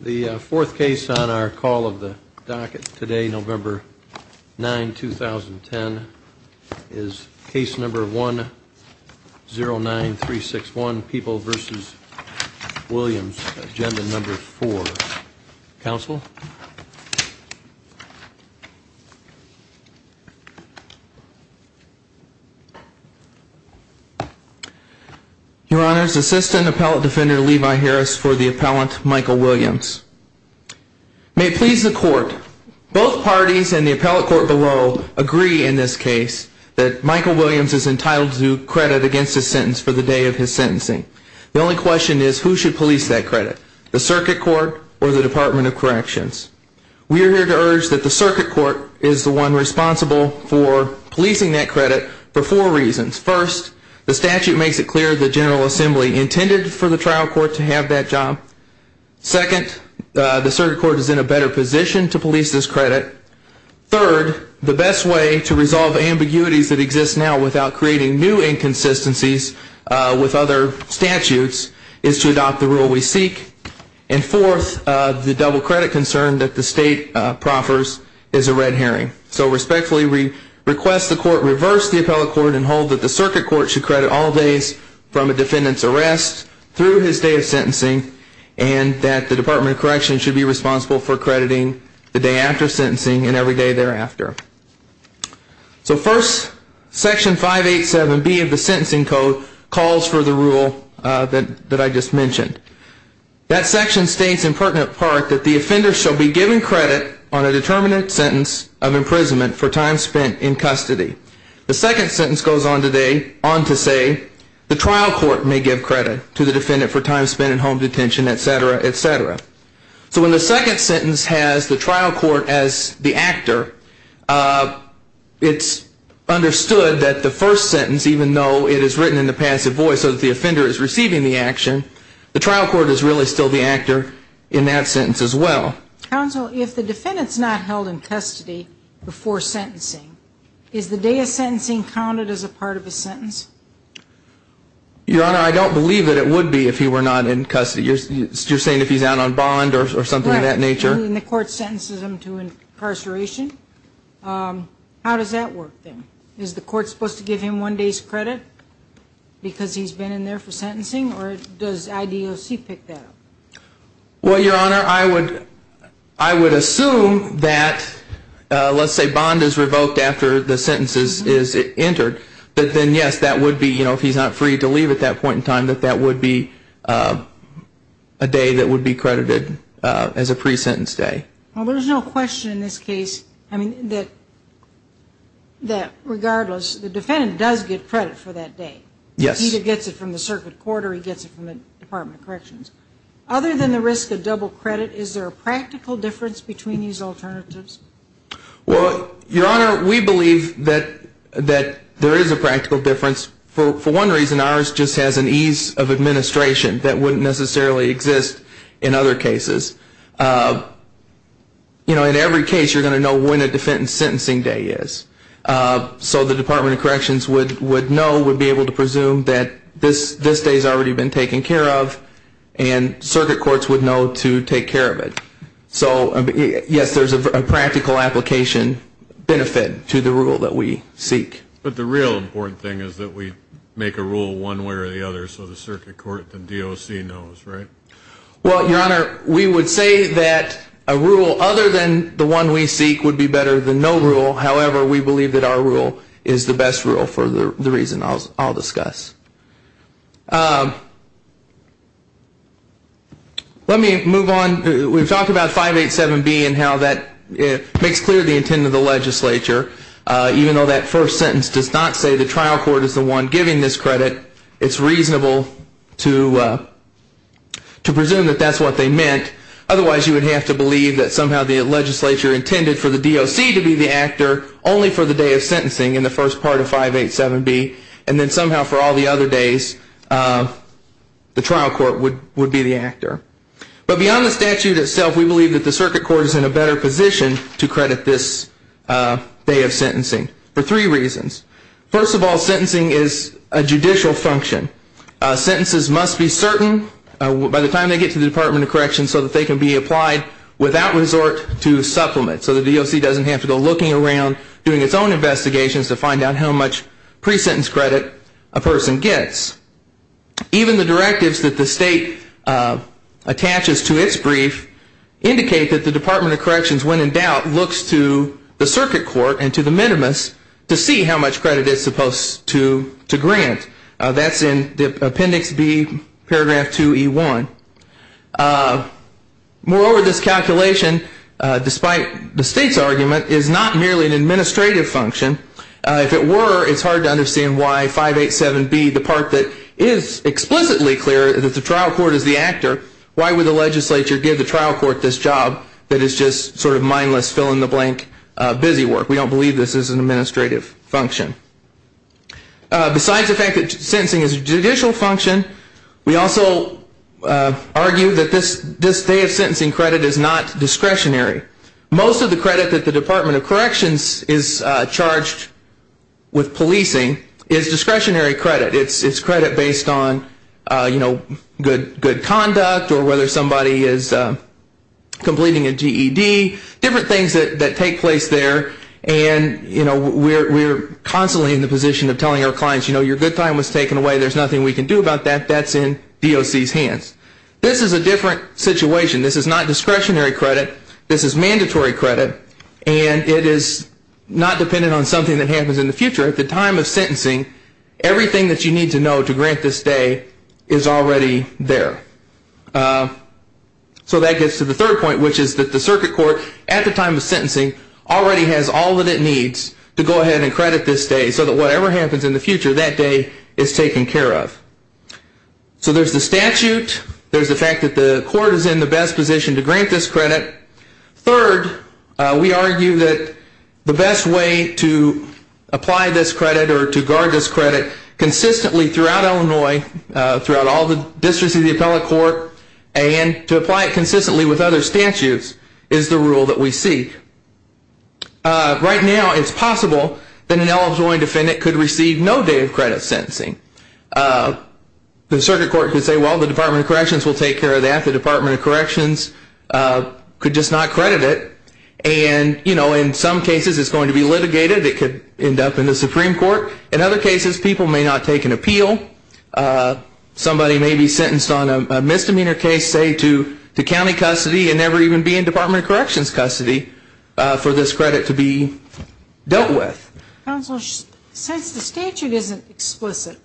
The fourth case on our call of the docket today, November 9, 2010, is case number 109361, People v. Williams, Agenda No. 4. Counsel? Your Honors, Assistant Appellate Defender Levi Harris for the Appellant Michael Williams. May it please the Court, both parties and the Appellate Court below agree in this case that Michael Williams is entitled to credit against his sentence for the day of his sentencing. The only question is who should police that credit, the Circuit Court or the Department of Corrections? We are here to urge that the Circuit Court is the one responsible for policing that credit for four reasons. First, the statute makes it clear the General Assembly intended for the Trial Court to have that job. Second, the Circuit Court is in a better position to police this credit. Third, the best way to resolve ambiguities that exist now without creating new inconsistencies with other statutes is to adopt the rule we seek. And fourth, the double credit concern that the State proffers is a red herring. So respectfully, we request the Court reverse the Appellate Court and hold that the Circuit Court should credit all days from a defendant's arrest through his day of sentencing and that the Department of Corrections should be responsible for crediting the day after sentencing and every day thereafter. So first, Section 587B of the Sentencing Code calls for the rule that I just mentioned. That section states in pertinent part that the offender shall be given credit on a determinate sentence of imprisonment for time spent in custody. The second sentence goes on to say the Trial Court may give credit to the defendant for time spent in home detention, et cetera, et cetera. So when the second sentence has the Trial Court as the actor, it's understood that the first sentence, even though it is written in the passive voice so that the offender is receiving the action, the Trial Court is really still the actor in that sentence as well. Counsel, if the defendant's not held in custody before sentencing, is the day of sentencing counted as a part of a sentence? Your Honor, I don't believe that it would be if he were not in custody. You're saying if he's out on bond or something of that nature? Right, and the Court sentences him to incarceration. How does that work then? Is the Court supposed to give him one day's credit because he's been in there for sentencing or does IDOC pick that up? Well, Your Honor, I would assume that, let's say bond is revoked after the sentence is entered, that then yes, that would be, you know, if he's not free to leave at that point in time, that that would be a day that would be credited as a pre-sentence day. Well, there's no question in this case, I mean, that regardless, the defendant does get credit for that day. Yes. He either gets it from the Circuit Court or he gets it from the Department of Corrections. Other than the risk of double credit, is there a practical difference between these alternatives? Well, Your Honor, we believe that there is a practical difference. For one reason, ours just has an ease of administration that wouldn't necessarily exist in other cases. You know, in every case, you're going to know when a defendant's sentencing day is. So the Department of Corrections would know, would be able to presume that this day has already been taken care of and Circuit Courts would know to take care of it. So, yes, there's a practical application benefit to the rule that we seek. But the real important thing is that we make a rule one way or the other so the Circuit Court, the DOC knows, right? Well, Your Honor, we would say that a rule other than the one we seek would be better than no rule. However, we believe that our rule is the best rule for the reason I'll discuss. Let me move on. We've talked about 587B and how that makes clear the intent of the legislature. Even though that first sentence does not say the trial court is the one giving this credit, it's reasonable to presume that that's what they meant. Otherwise, you would have to believe that somehow the legislature intended for the DOC to be the actor only for the day of sentencing in the first part of 587B and then somehow for all the other days the trial court would be the actor. But beyond the statute itself, we believe that the Circuit Court is in a better position to credit this day of sentencing for three reasons. First of all, sentencing is a judicial function. Sentences must be certain by the time they get to the Department of Corrections so that they can be applied without resort to supplement. So the DOC doesn't have to go looking around doing its own investigations to find out how much pre-sentence credit a person gets. Even the directives that the state attaches to its brief indicate that the Department of Corrections, when in doubt, looks to the Circuit Court and to the minimus to see how much credit it's supposed to grant. That's in Appendix B, Paragraph 2E1. Moreover, this calculation, despite the state's argument, is not merely an administrative function. If it were, it's hard to understand why 587B, the part that is explicitly clear that the trial court is the actor, why would the legislature give the trial court this job that is just sort of mindless fill-in-the-blank busywork? We don't believe this is an administrative function. Besides the fact that sentencing is a judicial function, we also argue that this day of sentencing credit is not discretionary. Most of the credit that the Department of Corrections is charged with policing is discretionary credit. It's credit based on good conduct or whether somebody is completing a GED, different things that take place there. And we're constantly in the position of telling our clients, you know, your good time was taken away. There's nothing we can do about that. That's in DOC's hands. This is a different situation. This is not discretionary credit. This is mandatory credit. And it is not dependent on something that happens in the future. At the time of sentencing, everything that you need to know to grant this day is already there. So that gets to the third point, which is that the circuit court, at the time of sentencing, already has all that it needs to go ahead and credit this day so that whatever happens in the future, that day is taken care of. So there's the statute. There's the fact that the court is in the best position to grant this credit. Third, we argue that the best way to apply this credit or to guard this credit consistently throughout Illinois, throughout all the districts of the appellate court, and to apply it consistently with other statutes, is the rule that we seek. Right now, it's possible that an Illinois defendant could receive no day of credit sentencing. The circuit court could say, well, the Department of Corrections will take care of that. The Department of Corrections could just not credit it. And, you know, in some cases, it's going to be litigated. It could end up in the Supreme Court. In other cases, people may not take an appeal. Somebody may be sentenced on a misdemeanor case, say, to county custody and never even be in Department of Corrections custody for this credit to be dealt with. Counsel, since the statute isn't explicit,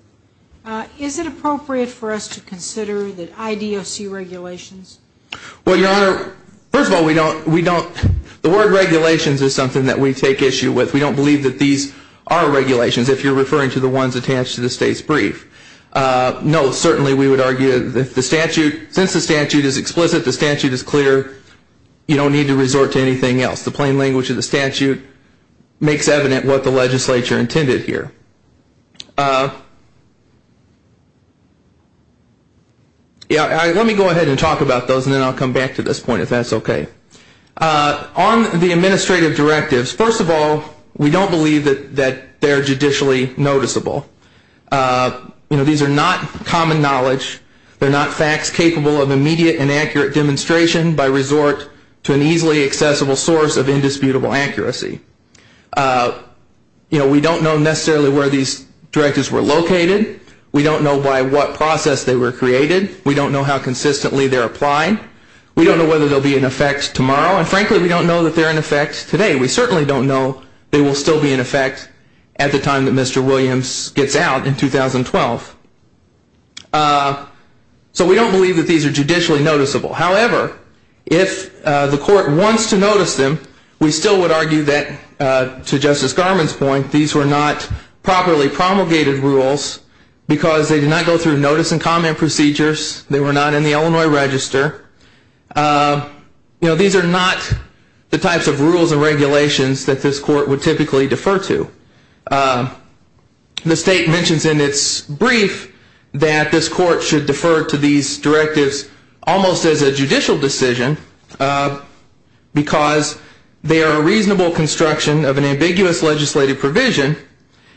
is it appropriate for us to consider the IDOC regulations? Well, Your Honor, first of all, we don't, we don't, the word regulations is something that we take issue with. We don't believe that these are regulations, if you're referring to the ones attached to the state's brief. No, certainly we would argue that the statute, since the statute is explicit, the statute is clear, you don't need to resort to anything else. The plain language of the statute makes evident what the legislature intended here. Let me go ahead and talk about those, and then I'll come back to this point, if that's okay. On the administrative directives, first of all, we don't believe that they're judicially noticeable. You know, these are not common knowledge. They're not facts capable of immediate and accurate demonstration by resort to an easily accessible source of indisputable accuracy. You know, we don't know necessarily where these directives were located. We don't know by what process they were created. We don't know how consistently they're applied. We don't know whether they'll be in effect tomorrow, and frankly, we don't know that they're in effect today. We certainly don't know they will still be in effect at the time that Mr. Williams gets out in 2012. So we don't believe that these are judicially noticeable. However, if the court wants to notice them, we still would argue that, to Justice Garmon's point, these were not properly promulgated rules because they did not go through notice and comment procedures. They were not in the Illinois Register. You know, these are not the types of rules and regulations that this court would typically defer to. The state mentions in its brief that this court should defer to these directives almost as a judicial decision because they are a reasonable construction of an ambiguous legislative provision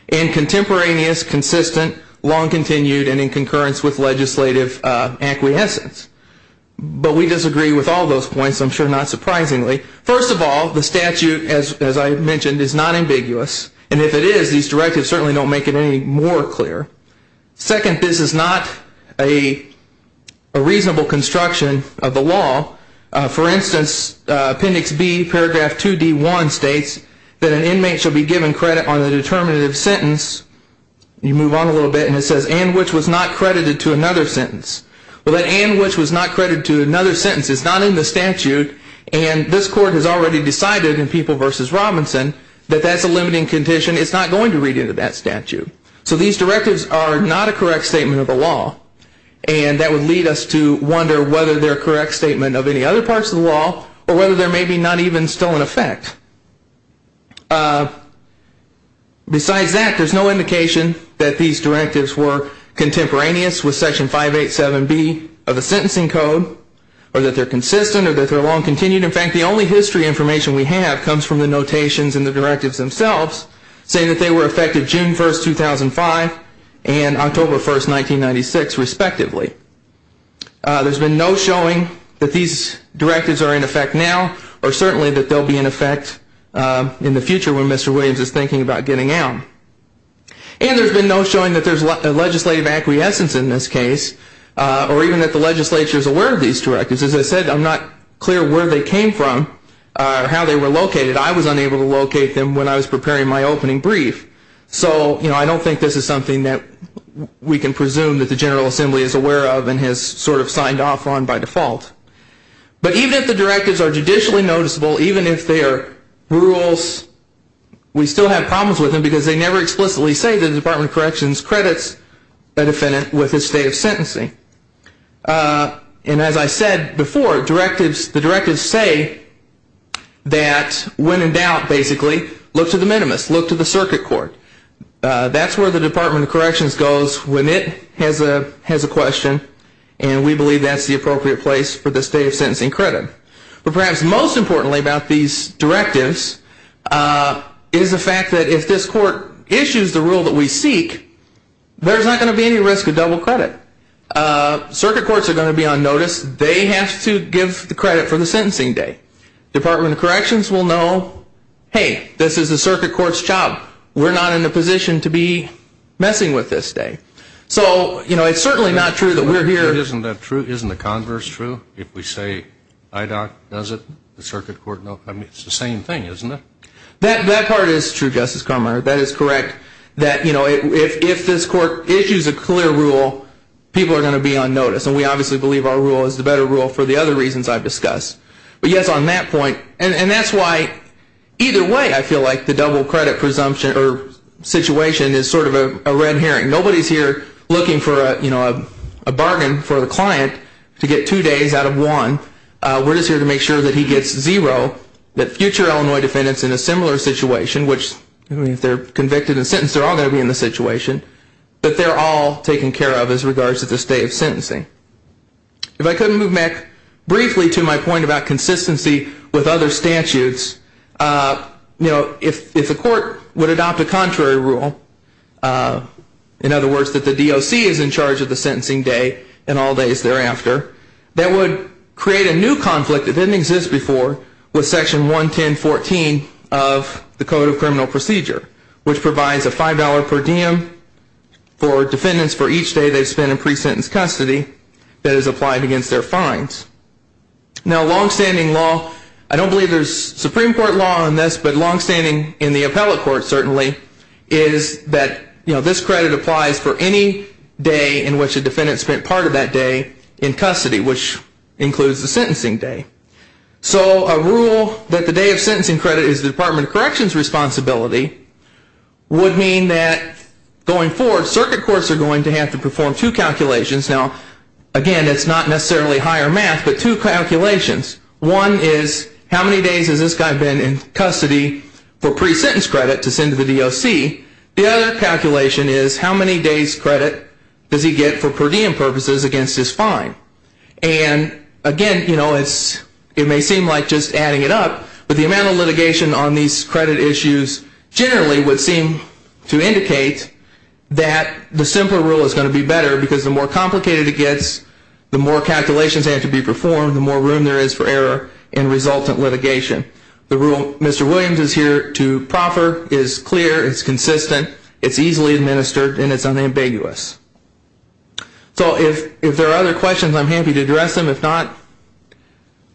and contemporaneous, consistent, long-continued, and in concurrence with legislative acquiescence. But we disagree with all those points, I'm sure not surprisingly. First of all, the statute, as I mentioned, is not ambiguous. And if it is, these directives certainly don't make it any more clear. Second, this is not a reasonable construction of the law. For instance, Appendix B, Paragraph 2D1 states that an inmate shall be given credit on a determinative sentence. You move on a little bit, and it says, and which was not credited to another sentence. Well, that and which was not credited to another sentence is not in the statute, and this court has already decided in People v. Robinson that that's a limiting condition. It's not going to read into that statute. So these directives are not a correct statement of the law, and that would lead us to wonder whether they're a correct statement of any other parts of the law or whether they're maybe not even still in effect. Besides that, there's no indication that these directives were contemporaneous with Section 587B of the sentencing code or that they're consistent or that they're long-continued. In fact, the only history information we have comes from the notations in the directives themselves saying that they were effective June 1, 2005 and October 1, 1996, respectively. There's been no showing that these directives are in effect now or certainly that they'll be in effect in the future when Mr. Williams is thinking about getting out. And there's been no showing that there's legislative acquiescence in this case or even that the legislature is aware of these directives. As I said, I'm not clear where they came from or how they were located. I was unable to locate them when I was preparing my opening brief. So I don't think this is something that we can presume that the General Assembly is aware of and has sort of signed off on by default. But even if the directives are judicially noticeable, even if they are rules, we still have problems with them because they never explicitly say that the Department of Corrections credits a defendant with his state of sentencing. And as I said before, the directives say that when in doubt, basically, look to the minimus. Look to the circuit court. That's where the Department of Corrections goes when it has a question and we believe that's the appropriate place for the state of sentencing credit. But perhaps most importantly about these directives is the fact that if this court issues the rule that we seek, there's not going to be any risk of double credit. Circuit courts are going to be on notice. They have to give the credit for the sentencing day. Department of Corrections will know, hey, this is the circuit court's job. We're not in a position to be messing with this day. So, you know, it's certainly not true that we're here. Isn't that true? Isn't the converse true? If we say IDOC does it, the circuit court, it's the same thing, isn't it? That part is true, Justice Carminer. That is correct. That, you know, if this court issues a clear rule, people are going to be on notice. And we obviously believe our rule is the better rule for the other reasons I've discussed. But, yes, on that point, and that's why either way I feel like the double credit presumption or situation is sort of a red herring. Nobody's here looking for, you know, a bargain for the client to get two days out of one. We're just here to make sure that he gets zero, that future Illinois defendants in a similar situation, which if they're convicted and sentenced, they're all going to be in the situation, that they're all taken care of as regards to this day of sentencing. If I could move back briefly to my point about consistency with other statutes, you know, if the court would adopt a contrary rule, in other words, that the DOC is in charge of the sentencing day and all days thereafter, that would create a new conflict that didn't exist before with Section 110.14 of the Code of Criminal Procedure, which provides a $5 per diem for defendants for each day they spend in pre-sentence custody that is applied against their fines. Now, long-standing law, I don't believe there's Supreme Court law on this, but long-standing in the appellate court, certainly, is that, you know, this credit applies for any day in which a defendant spent part of that day in custody, which includes the sentencing day. So a rule that the day of sentencing credit is the Department of Corrections' responsibility would mean that going forward, circuit courts are going to have to perform two calculations. Now, again, it's not necessarily higher math, but two calculations. One is, how many days has this guy been in custody for pre-sentence credit to send to the DOC? The other calculation is, how many days' credit does he get for per diem purposes against his fine? And, again, you know, it may seem like just adding it up, but the amount of litigation on these credit issues generally would seem to indicate that the simpler rule is going to be better because the more complicated it gets, the more calculations have to be performed, the more room there is for error and resultant litigation. The rule Mr. Williams is here to proffer is clear, it's consistent, it's easily administered, and it's unambiguous. So if there are other questions, I'm happy to address them. If not,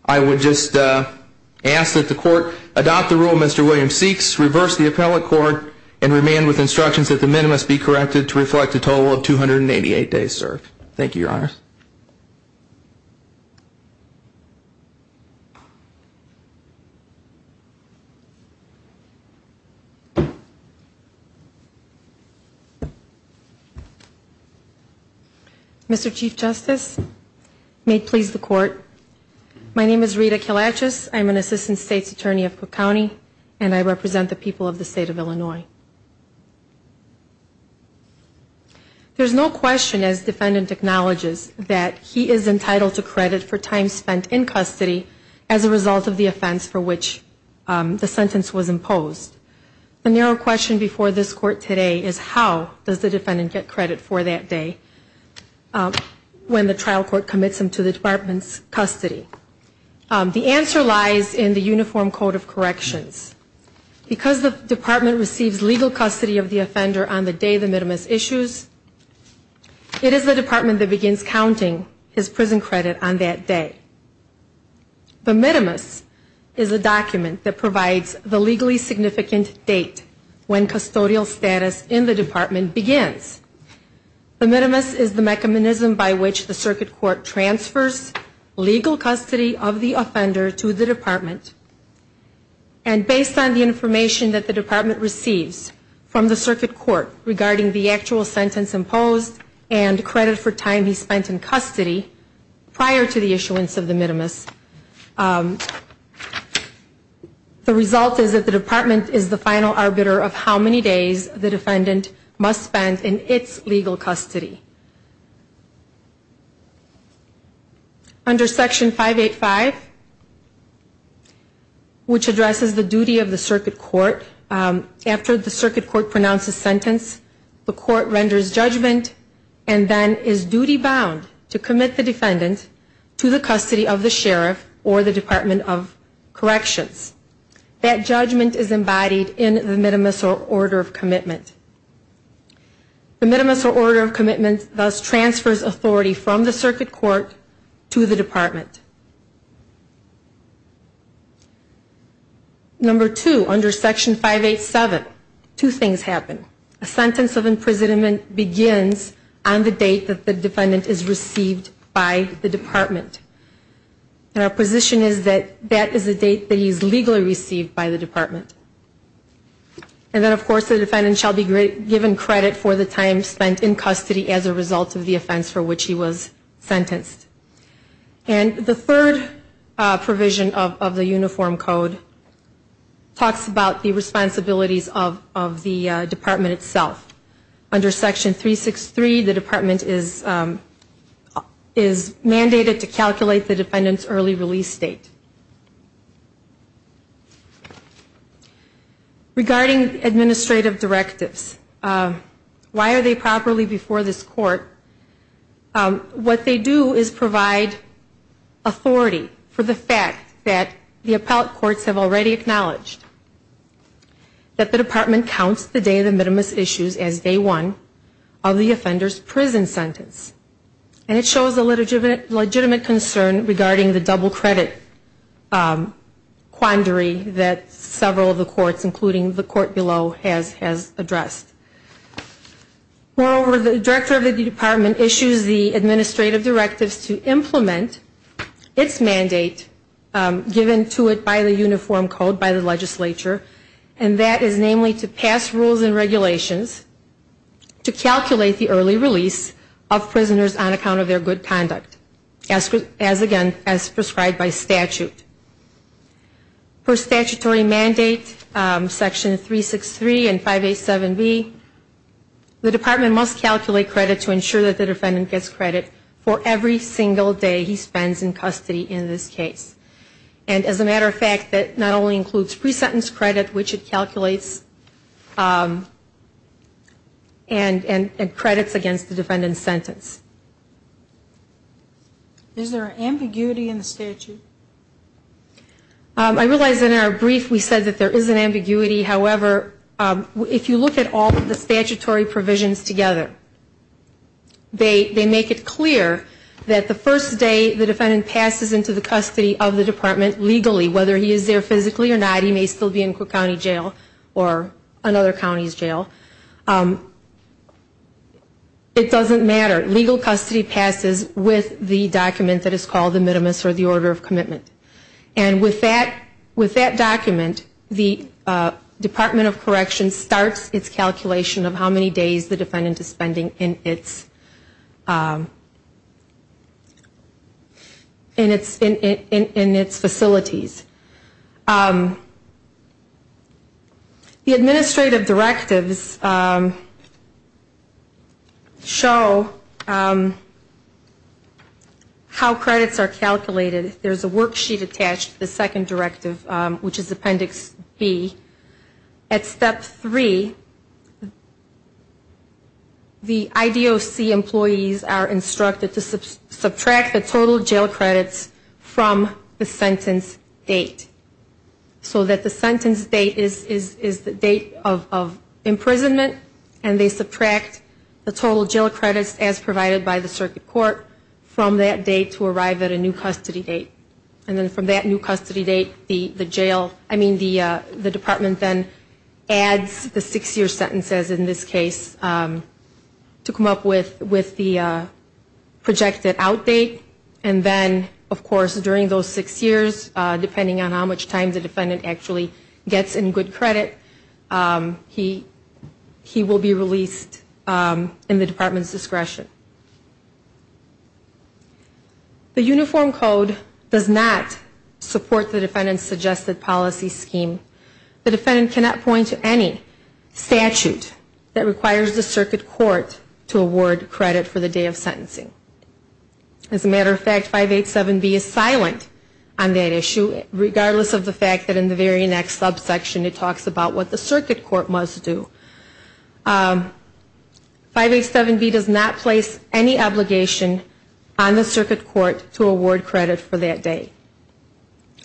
I would just ask that the court adopt the rule Mr. Williams seeks, reverse the appellate court, and remain with instructions that the minimum must be corrected to reflect the total of 288 days served. Thank you, Your Honors. Mr. Chief Justice, may it please the Court, my name is Rita Kalachis. I'm an Assistant State's Attorney of Cook County, and I represent the people of the State of Illinois. There's no question, as defendant acknowledges, that he is entitled to credit for time spent in custody as a result of the offense for which the sentence was imposed. The narrow question before this Court today is how does the defendant get credit for that day when the trial court commits him to the Department's custody? The answer lies in the Uniform Code of Corrections. Because the Department receives legal custody of the offender on the day the minimus issues, it is the Department that begins counting his prison credit on that day. The minimus is a document that provides the legally significant date when custodial status in the Department begins. The minimus is the mechanism by which the circuit court transfers legal custody of the offender to the Department. And based on the information that the Department receives from the circuit court regarding the actual sentence imposed and credit for time he spent in custody prior to the issuance of the minimus, the result is that the Department is the final arbiter of how many days the defendant must spend in its legal custody. Under Section 585, which addresses the duty of the circuit court, after the circuit court pronounces sentence, the court renders judgment and then is duty-bound to commit the defendant to the custody of the sheriff or the Department of Corrections. That judgment is embodied in the minimus or order of commitment. The minimus or order of commitment thus transfers authority from the circuit court to the Department. Number two, under Section 587, two things happen. A sentence of imprisonment begins on the date that the defendant is received by the Department. And our position is that that is the date that he is legally received by the Department. And then, of course, the defendant shall be given credit for the time spent in custody as a result of the offense for which he was sentenced. And the third provision of the Uniform Code talks about the responsibilities of the Department itself. Under Section 363, the Department is mandated to calculate the defendant's early release date. Regarding administrative directives, why are they properly before this court? What they do is provide authority for the fact that the appellate courts have already acknowledged that the Department counts the day of the minimus issues as day one of the offender's prison sentence. And it shows a legitimate concern regarding the double credit quandary that several of the courts, including the court below, has addressed. Moreover, the Director of the Department issues the administrative directives to implement its mandate given to it by the Uniform Code, by the legislature, and that is namely to pass rules and regulations to calculate the early release of prisoners on account of their good conduct, as, again, as prescribed by statute. Per statutory mandate, Section 363 and 587B, the Department must calculate credit to ensure that the defendant gets credit for every single day he spends in custody in this case. And as a matter of fact, that not only includes pre-sentence credit, which it calculates, and credits against the defendant's sentence. Is there an ambiguity in the statute? I realize in our brief we said that there is an ambiguity. However, if you look at all of the statutory provisions together, they make it clear that the first day the defendant passes into the custody of the Department legally, whether he is there physically or not, he may still be in Cook County Jail or another location, he may still be in Cook County Jail, he may still be in Cook County Jail, he may still be in Cook County Jail, he may still be in Cook County Jail, legal custody passes with the document that is called the minimus or the order of commitment. And with that document, the Department of Correction starts its calculation of how many days the defendant is spending in its facilities. The administrative directives show how credits are calculated. There is a worksheet attached to the second directive, which is Appendix B. At Step 3, the IDOC employees are instructed to subtract the total jail credits from the sentence date. So that the sentence date is the date of imprisonment, and they subtract the total jail credits as provided by the circuit court from that date to arrive at a new custody date. And then from that new custody date, the department then adds the six-year sentences in this case to come up with the projected out date. And then, of course, during those six years, depending on how much time the defendant actually gets in good credit, he will be released in the department's discretion. The Uniform Code does not support the defendant's suggested policy scheme. The defendant cannot point to any statute that requires the circuit court to award credit for the day of sentencing. As a matter of fact, 587B is silent on that issue, regardless of the fact that in the very next subsection it talks about what the circuit court must do. 587B does not place any obligation on the circuit court to award credit for that day.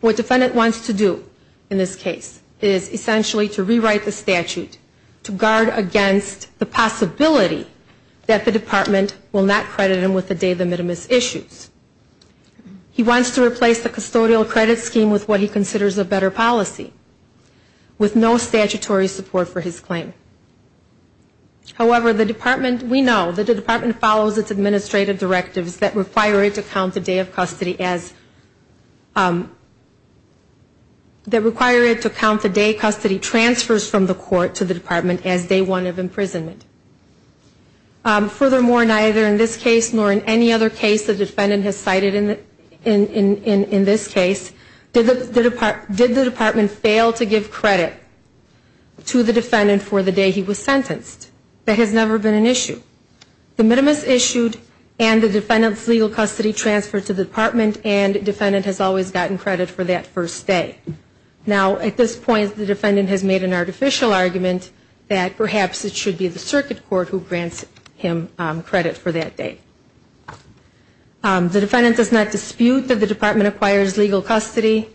What the defendant wants to do in this case is essentially to rewrite the statute to guard against the possibility of the circuit court saying that the department will not credit him with the day of the minimus issues. He wants to replace the custodial credit scheme with what he considers a better policy, with no statutory support for his claim. However, the department, we know, the department follows its administrative directives that require it to count the day of custody as, that require it to count the day custody transfers from the court to the department as day one of imprisonment. Furthermore, neither in this case nor in any other case the defendant has cited in this case, did the department fail to give credit to the defendant for the day he was sentenced? That has never been an issue. The minimus issued and the defendant's legal custody transferred to the department and the defendant has always gotten credit for that first day. Now, at this point, the defendant has made an artificial argument that perhaps it should be the circuit court who grants credit for the day he was sentenced. The defendant does not dispute that the department acquires legal custody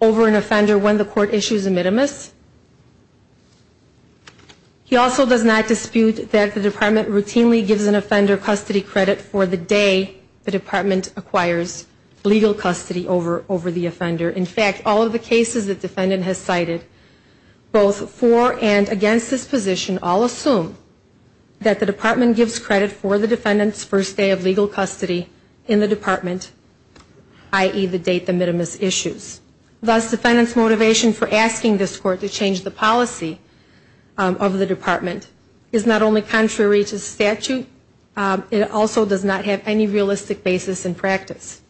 over an offender when the court issues a minimus. He also does not dispute that the department routinely gives an offender custody credit for the day the department acquires legal custody over the offender. In fact, all of the cases the defendant has cited, both for and against this position, all assume that the department gives credit for the defendant's first day of legal custody in the department, i.e., the date the minimus issues. Thus, the defendant's motivation for asking this court to change the policy of the department is not only contrary to statute, it also does not have any realistic basis in practice.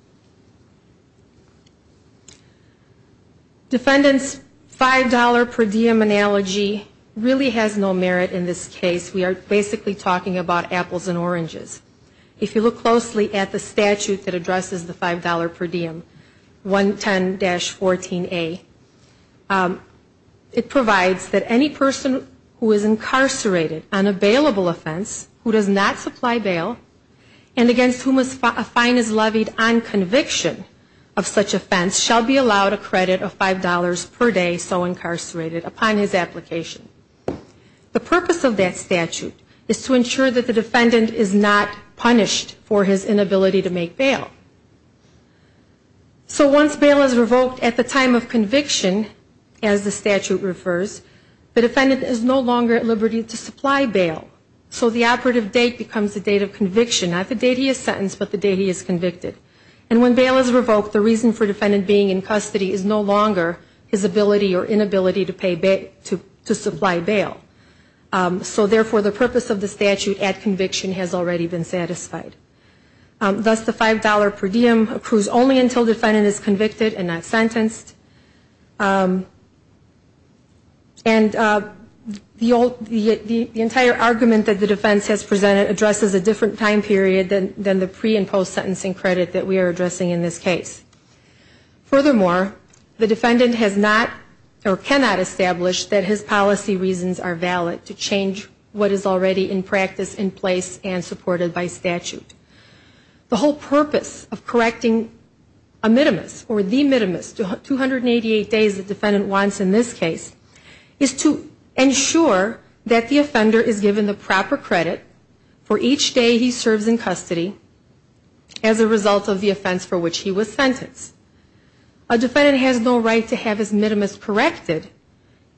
Defendant's $5 per diem analogy really has no merit in this case. We are basically talking about a $5 penalty. We are not talking about apples and oranges. If you look closely at the statute that addresses the $5 per diem, 110-14a, it provides that any person who is incarcerated on a bailable offense who does not supply bail and against whom a fine is levied on conviction of such offense shall be allowed a credit of $5 per day, so incarcerated, upon his application. The purpose of that statute is to ensure that the defendant is not punished for his inability to make bail. So once bail is revoked at the time of conviction, as the statute refers, the defendant is no longer at liberty to supply bail. So the operative date becomes the date of conviction, not the date he is sentenced, but the date he is convicted. And when bail is revoked, the reason for defendant being in custody is no longer his ability or inability to supply bail. So therefore, the purpose of the statute at conviction has already been satisfied. Thus, the $5 per diem approves only until defendant is convicted and not sentenced. And the entire argument that the defense has presented addresses a different time period than the pre- and post-sentencing credit that we are addressing in this case. Furthermore, the defendant has not or cannot establish that his policy reasons are valid to change what is already in practice in place and supported by statute. The whole purpose of correcting a minimus or the minimus, 288 days the defendant wants in this case, is to ensure that the offender is given the proper credit for each day he serves in custody as a result of the offense for which he was sentenced. A defendant has no right to have his minimus corrected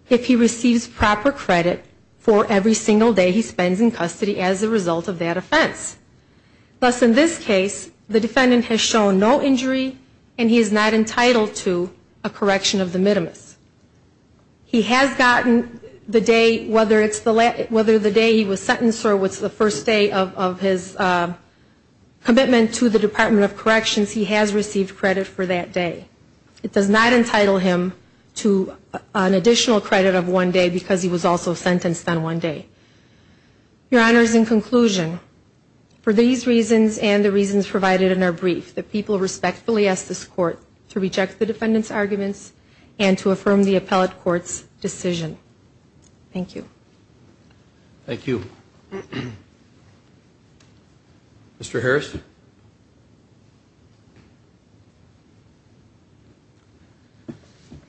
if he receives proper credit for every single day he spends in custody as a result of that offense. Thus, in this case, the defendant has shown no injury and he is not entitled to a correction of the minimus. He has gotten the day, whether it's the day he was sentenced or it's the first day of his probation, he has received credit for that day. It does not entitle him to an additional credit of one day because he was also sentenced on one day. Your Honor, in conclusion, for these reasons and the reasons provided in our brief, the people respectfully ask this Court to reject the defendant's arguments and to affirm the appellate court's decision. Thank you. Thank you. Mr. Harris?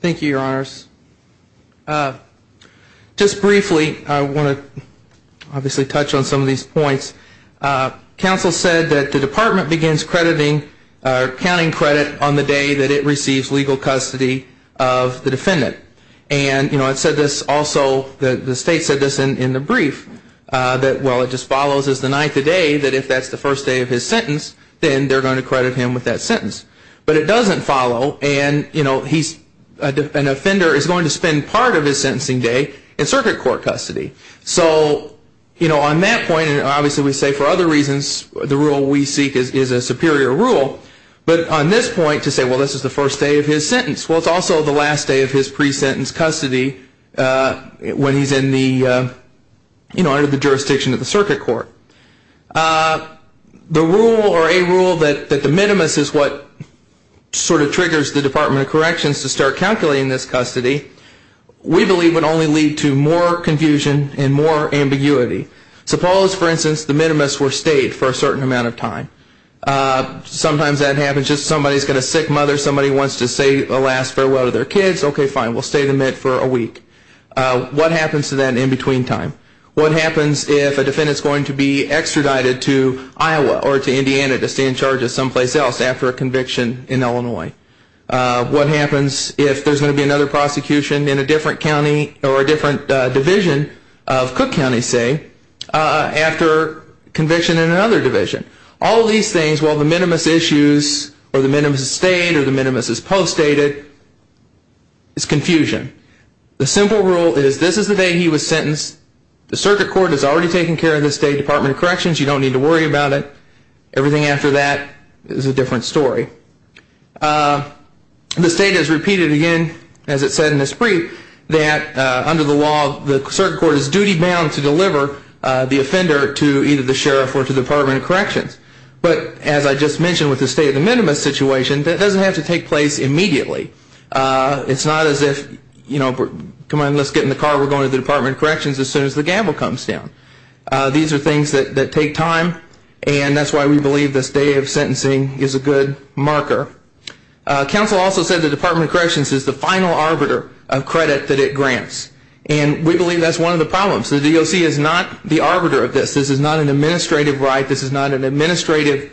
Thank you, Your Honors. Just briefly, I want to obviously touch on some of these points. Council said that the department begins crediting or counting credit on the day that it receives legal custody of the defendant. And, you know, it said this also, the state said this in the brief, that, well, it just follows as the ninth of day that if that's the first day of his sentence, then they're going to credit him with that sentence. But it doesn't follow and, you know, an offender is going to spend part of his sentencing day in circuit court custody. So, you know, on that point, and obviously we say for other reasons the rule we seek is a superior rule, but on this point to say, well, this is the first day of his sentence, well, it's also the last day of his sentence when he's in the, you know, under the jurisdiction of the circuit court. The rule or a rule that the minimus is what sort of triggers the Department of Corrections to start calculating this custody, we believe would only lead to more confusion and more ambiguity. Suppose, for instance, the minimus were stayed for a certain amount of time. Sometimes that happens, just somebody's got a sick mother, somebody wants to say the last farewell to their kids, okay, fine, we'll stay the minute for a week. But, you know, what happens to that in between time? What happens if a defendant's going to be extradited to Iowa or to Indiana to stay in charge of someplace else after a conviction in Illinois? What happens if there's going to be another prosecution in a different county or a different division of Cook County, say, after conviction in another division? All these things, while the minimus issues or the minimus is stayed or the minimus is postdated, it's confusion. The simple rule is this is the day he was sentenced. The circuit court is already taking care of the State Department of Corrections. You don't need to worry about it. Everything after that is a different story. The state has repeated again, as it said in its brief, that under the law, the circuit court is duty-bound to deliver the offender to either the sheriff or to the Department of Corrections. But, as I just mentioned with the state of the minimus situation, that doesn't have to take place immediately. It's not as if, you know, come on, let's get in the car, we're going to the Department of Corrections as soon as the gamble comes down. These are things that take time, and that's why we believe this day of sentencing is a good marker. Counsel also said the Department of Corrections is the final arbiter of credit that it grants, and we believe that's one of the problems. The DOC is not the arbiter of this. This is not an administrative right. This is not an administrative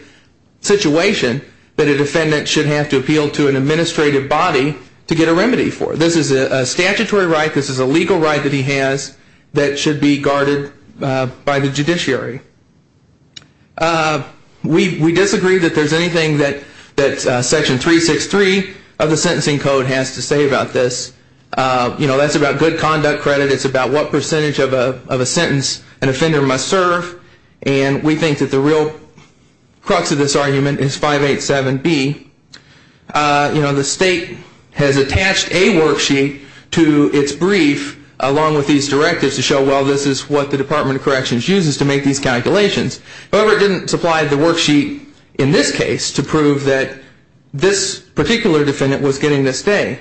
right that a defendant should have to appeal to an administrative body to get a remedy for. This is a statutory right. This is a legal right that he has that should be guarded by the judiciary. We disagree that there's anything that Section 363 of the Sentencing Code has to say about this. You know, that's about good conduct credit. It's about what percentage of a sentence an individual should be. You know, the state has attached a worksheet to its brief along with these directives to show, well, this is what the Department of Corrections uses to make these calculations. However, it didn't supply the worksheet in this case to prove that this particular defendant was getting this day.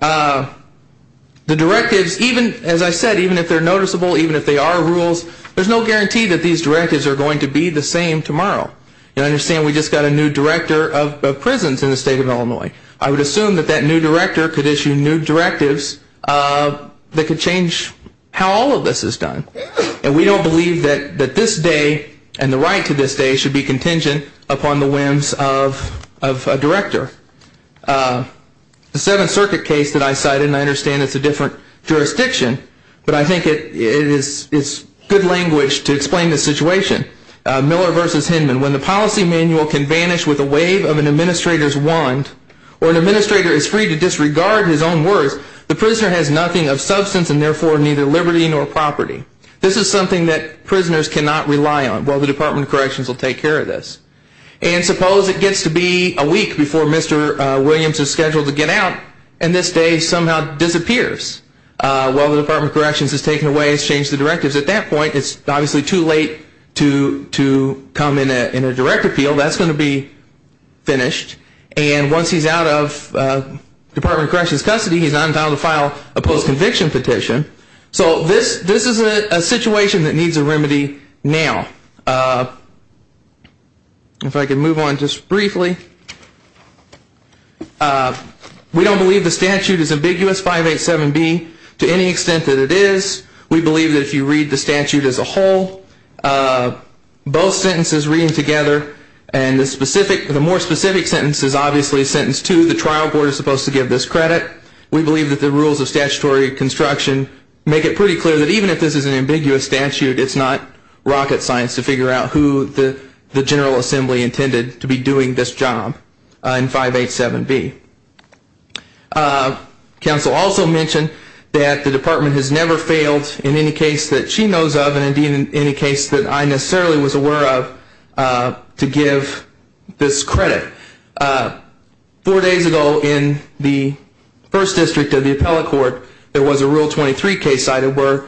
The directives, even as I said, even if they're noticeable, even if they are rules, there's no guarantee that these directives are going to be the same tomorrow. You understand we just got a new director of the Department of Prisons in the state of Illinois. I would assume that that new director could issue new directives that could change how all of this is done. And we don't believe that this day and the right to this day should be contingent upon the whims of a director. The Seventh Circuit case that I cited, and I understand it's a different jurisdiction, but I think it's good language to explain the difference between the two. If an administrator is freed to disregard his own words, the prisoner has nothing of substance and therefore neither liberty nor property. This is something that prisoners cannot rely on. Well, the Department of Corrections will take care of this. And suppose it gets to be a week before Mr. Williams is scheduled to get out and this day somehow disappears while the Department of Corrections has taken away, has changed the directives. At that point, it's obviously too late to come in a direct appeal. That's going to be finished. And once he's out of Department of Corrections' custody, he's not entitled to file a post-conviction petition. So this is a situation that needs a remedy now. If I could move on just briefly. We don't believe the statute is ambiguous, 587B, to any extent that it is. We believe that if you read the statute as a whole, both sentences reading together and the specific, the more specific sentence is obviously sentence two, the trial board is supposed to give this credit. We believe that the rules of statutory construction make it pretty clear that even if this is an ambiguous statute, it's not rocket science to figure out who the General Assembly intended to be doing this job in 587B. Counsel also mentioned that the Department has never failed in any case that she knows of and indeed in any case that I necessarily was aware of to give this credit. Four days ago in the First District of the Appellate Court, there was a Rule 23 case cited where,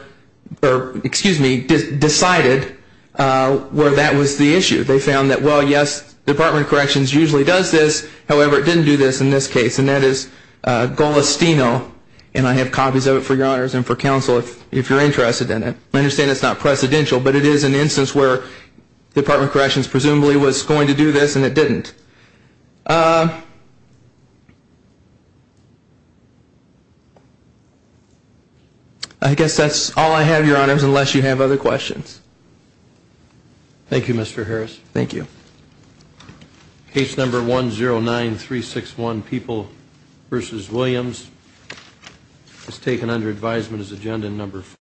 excuse me, decided where that was the issue. They found that, well, yes, Department of Corrections usually does this. However, it didn't do this in this case, and that is Golostino, and I have copies of it for your honors and for counsel if you're interested in it. I understand it's not precedential, but it is an instance where Department of Corrections presumably was going to do this and it didn't. I guess that's all I have, your honors, unless you have other questions. Thank you, Mr. Harris. Thank you. Case number 109361, People v. Williams, is taken under advisement as agenda number four.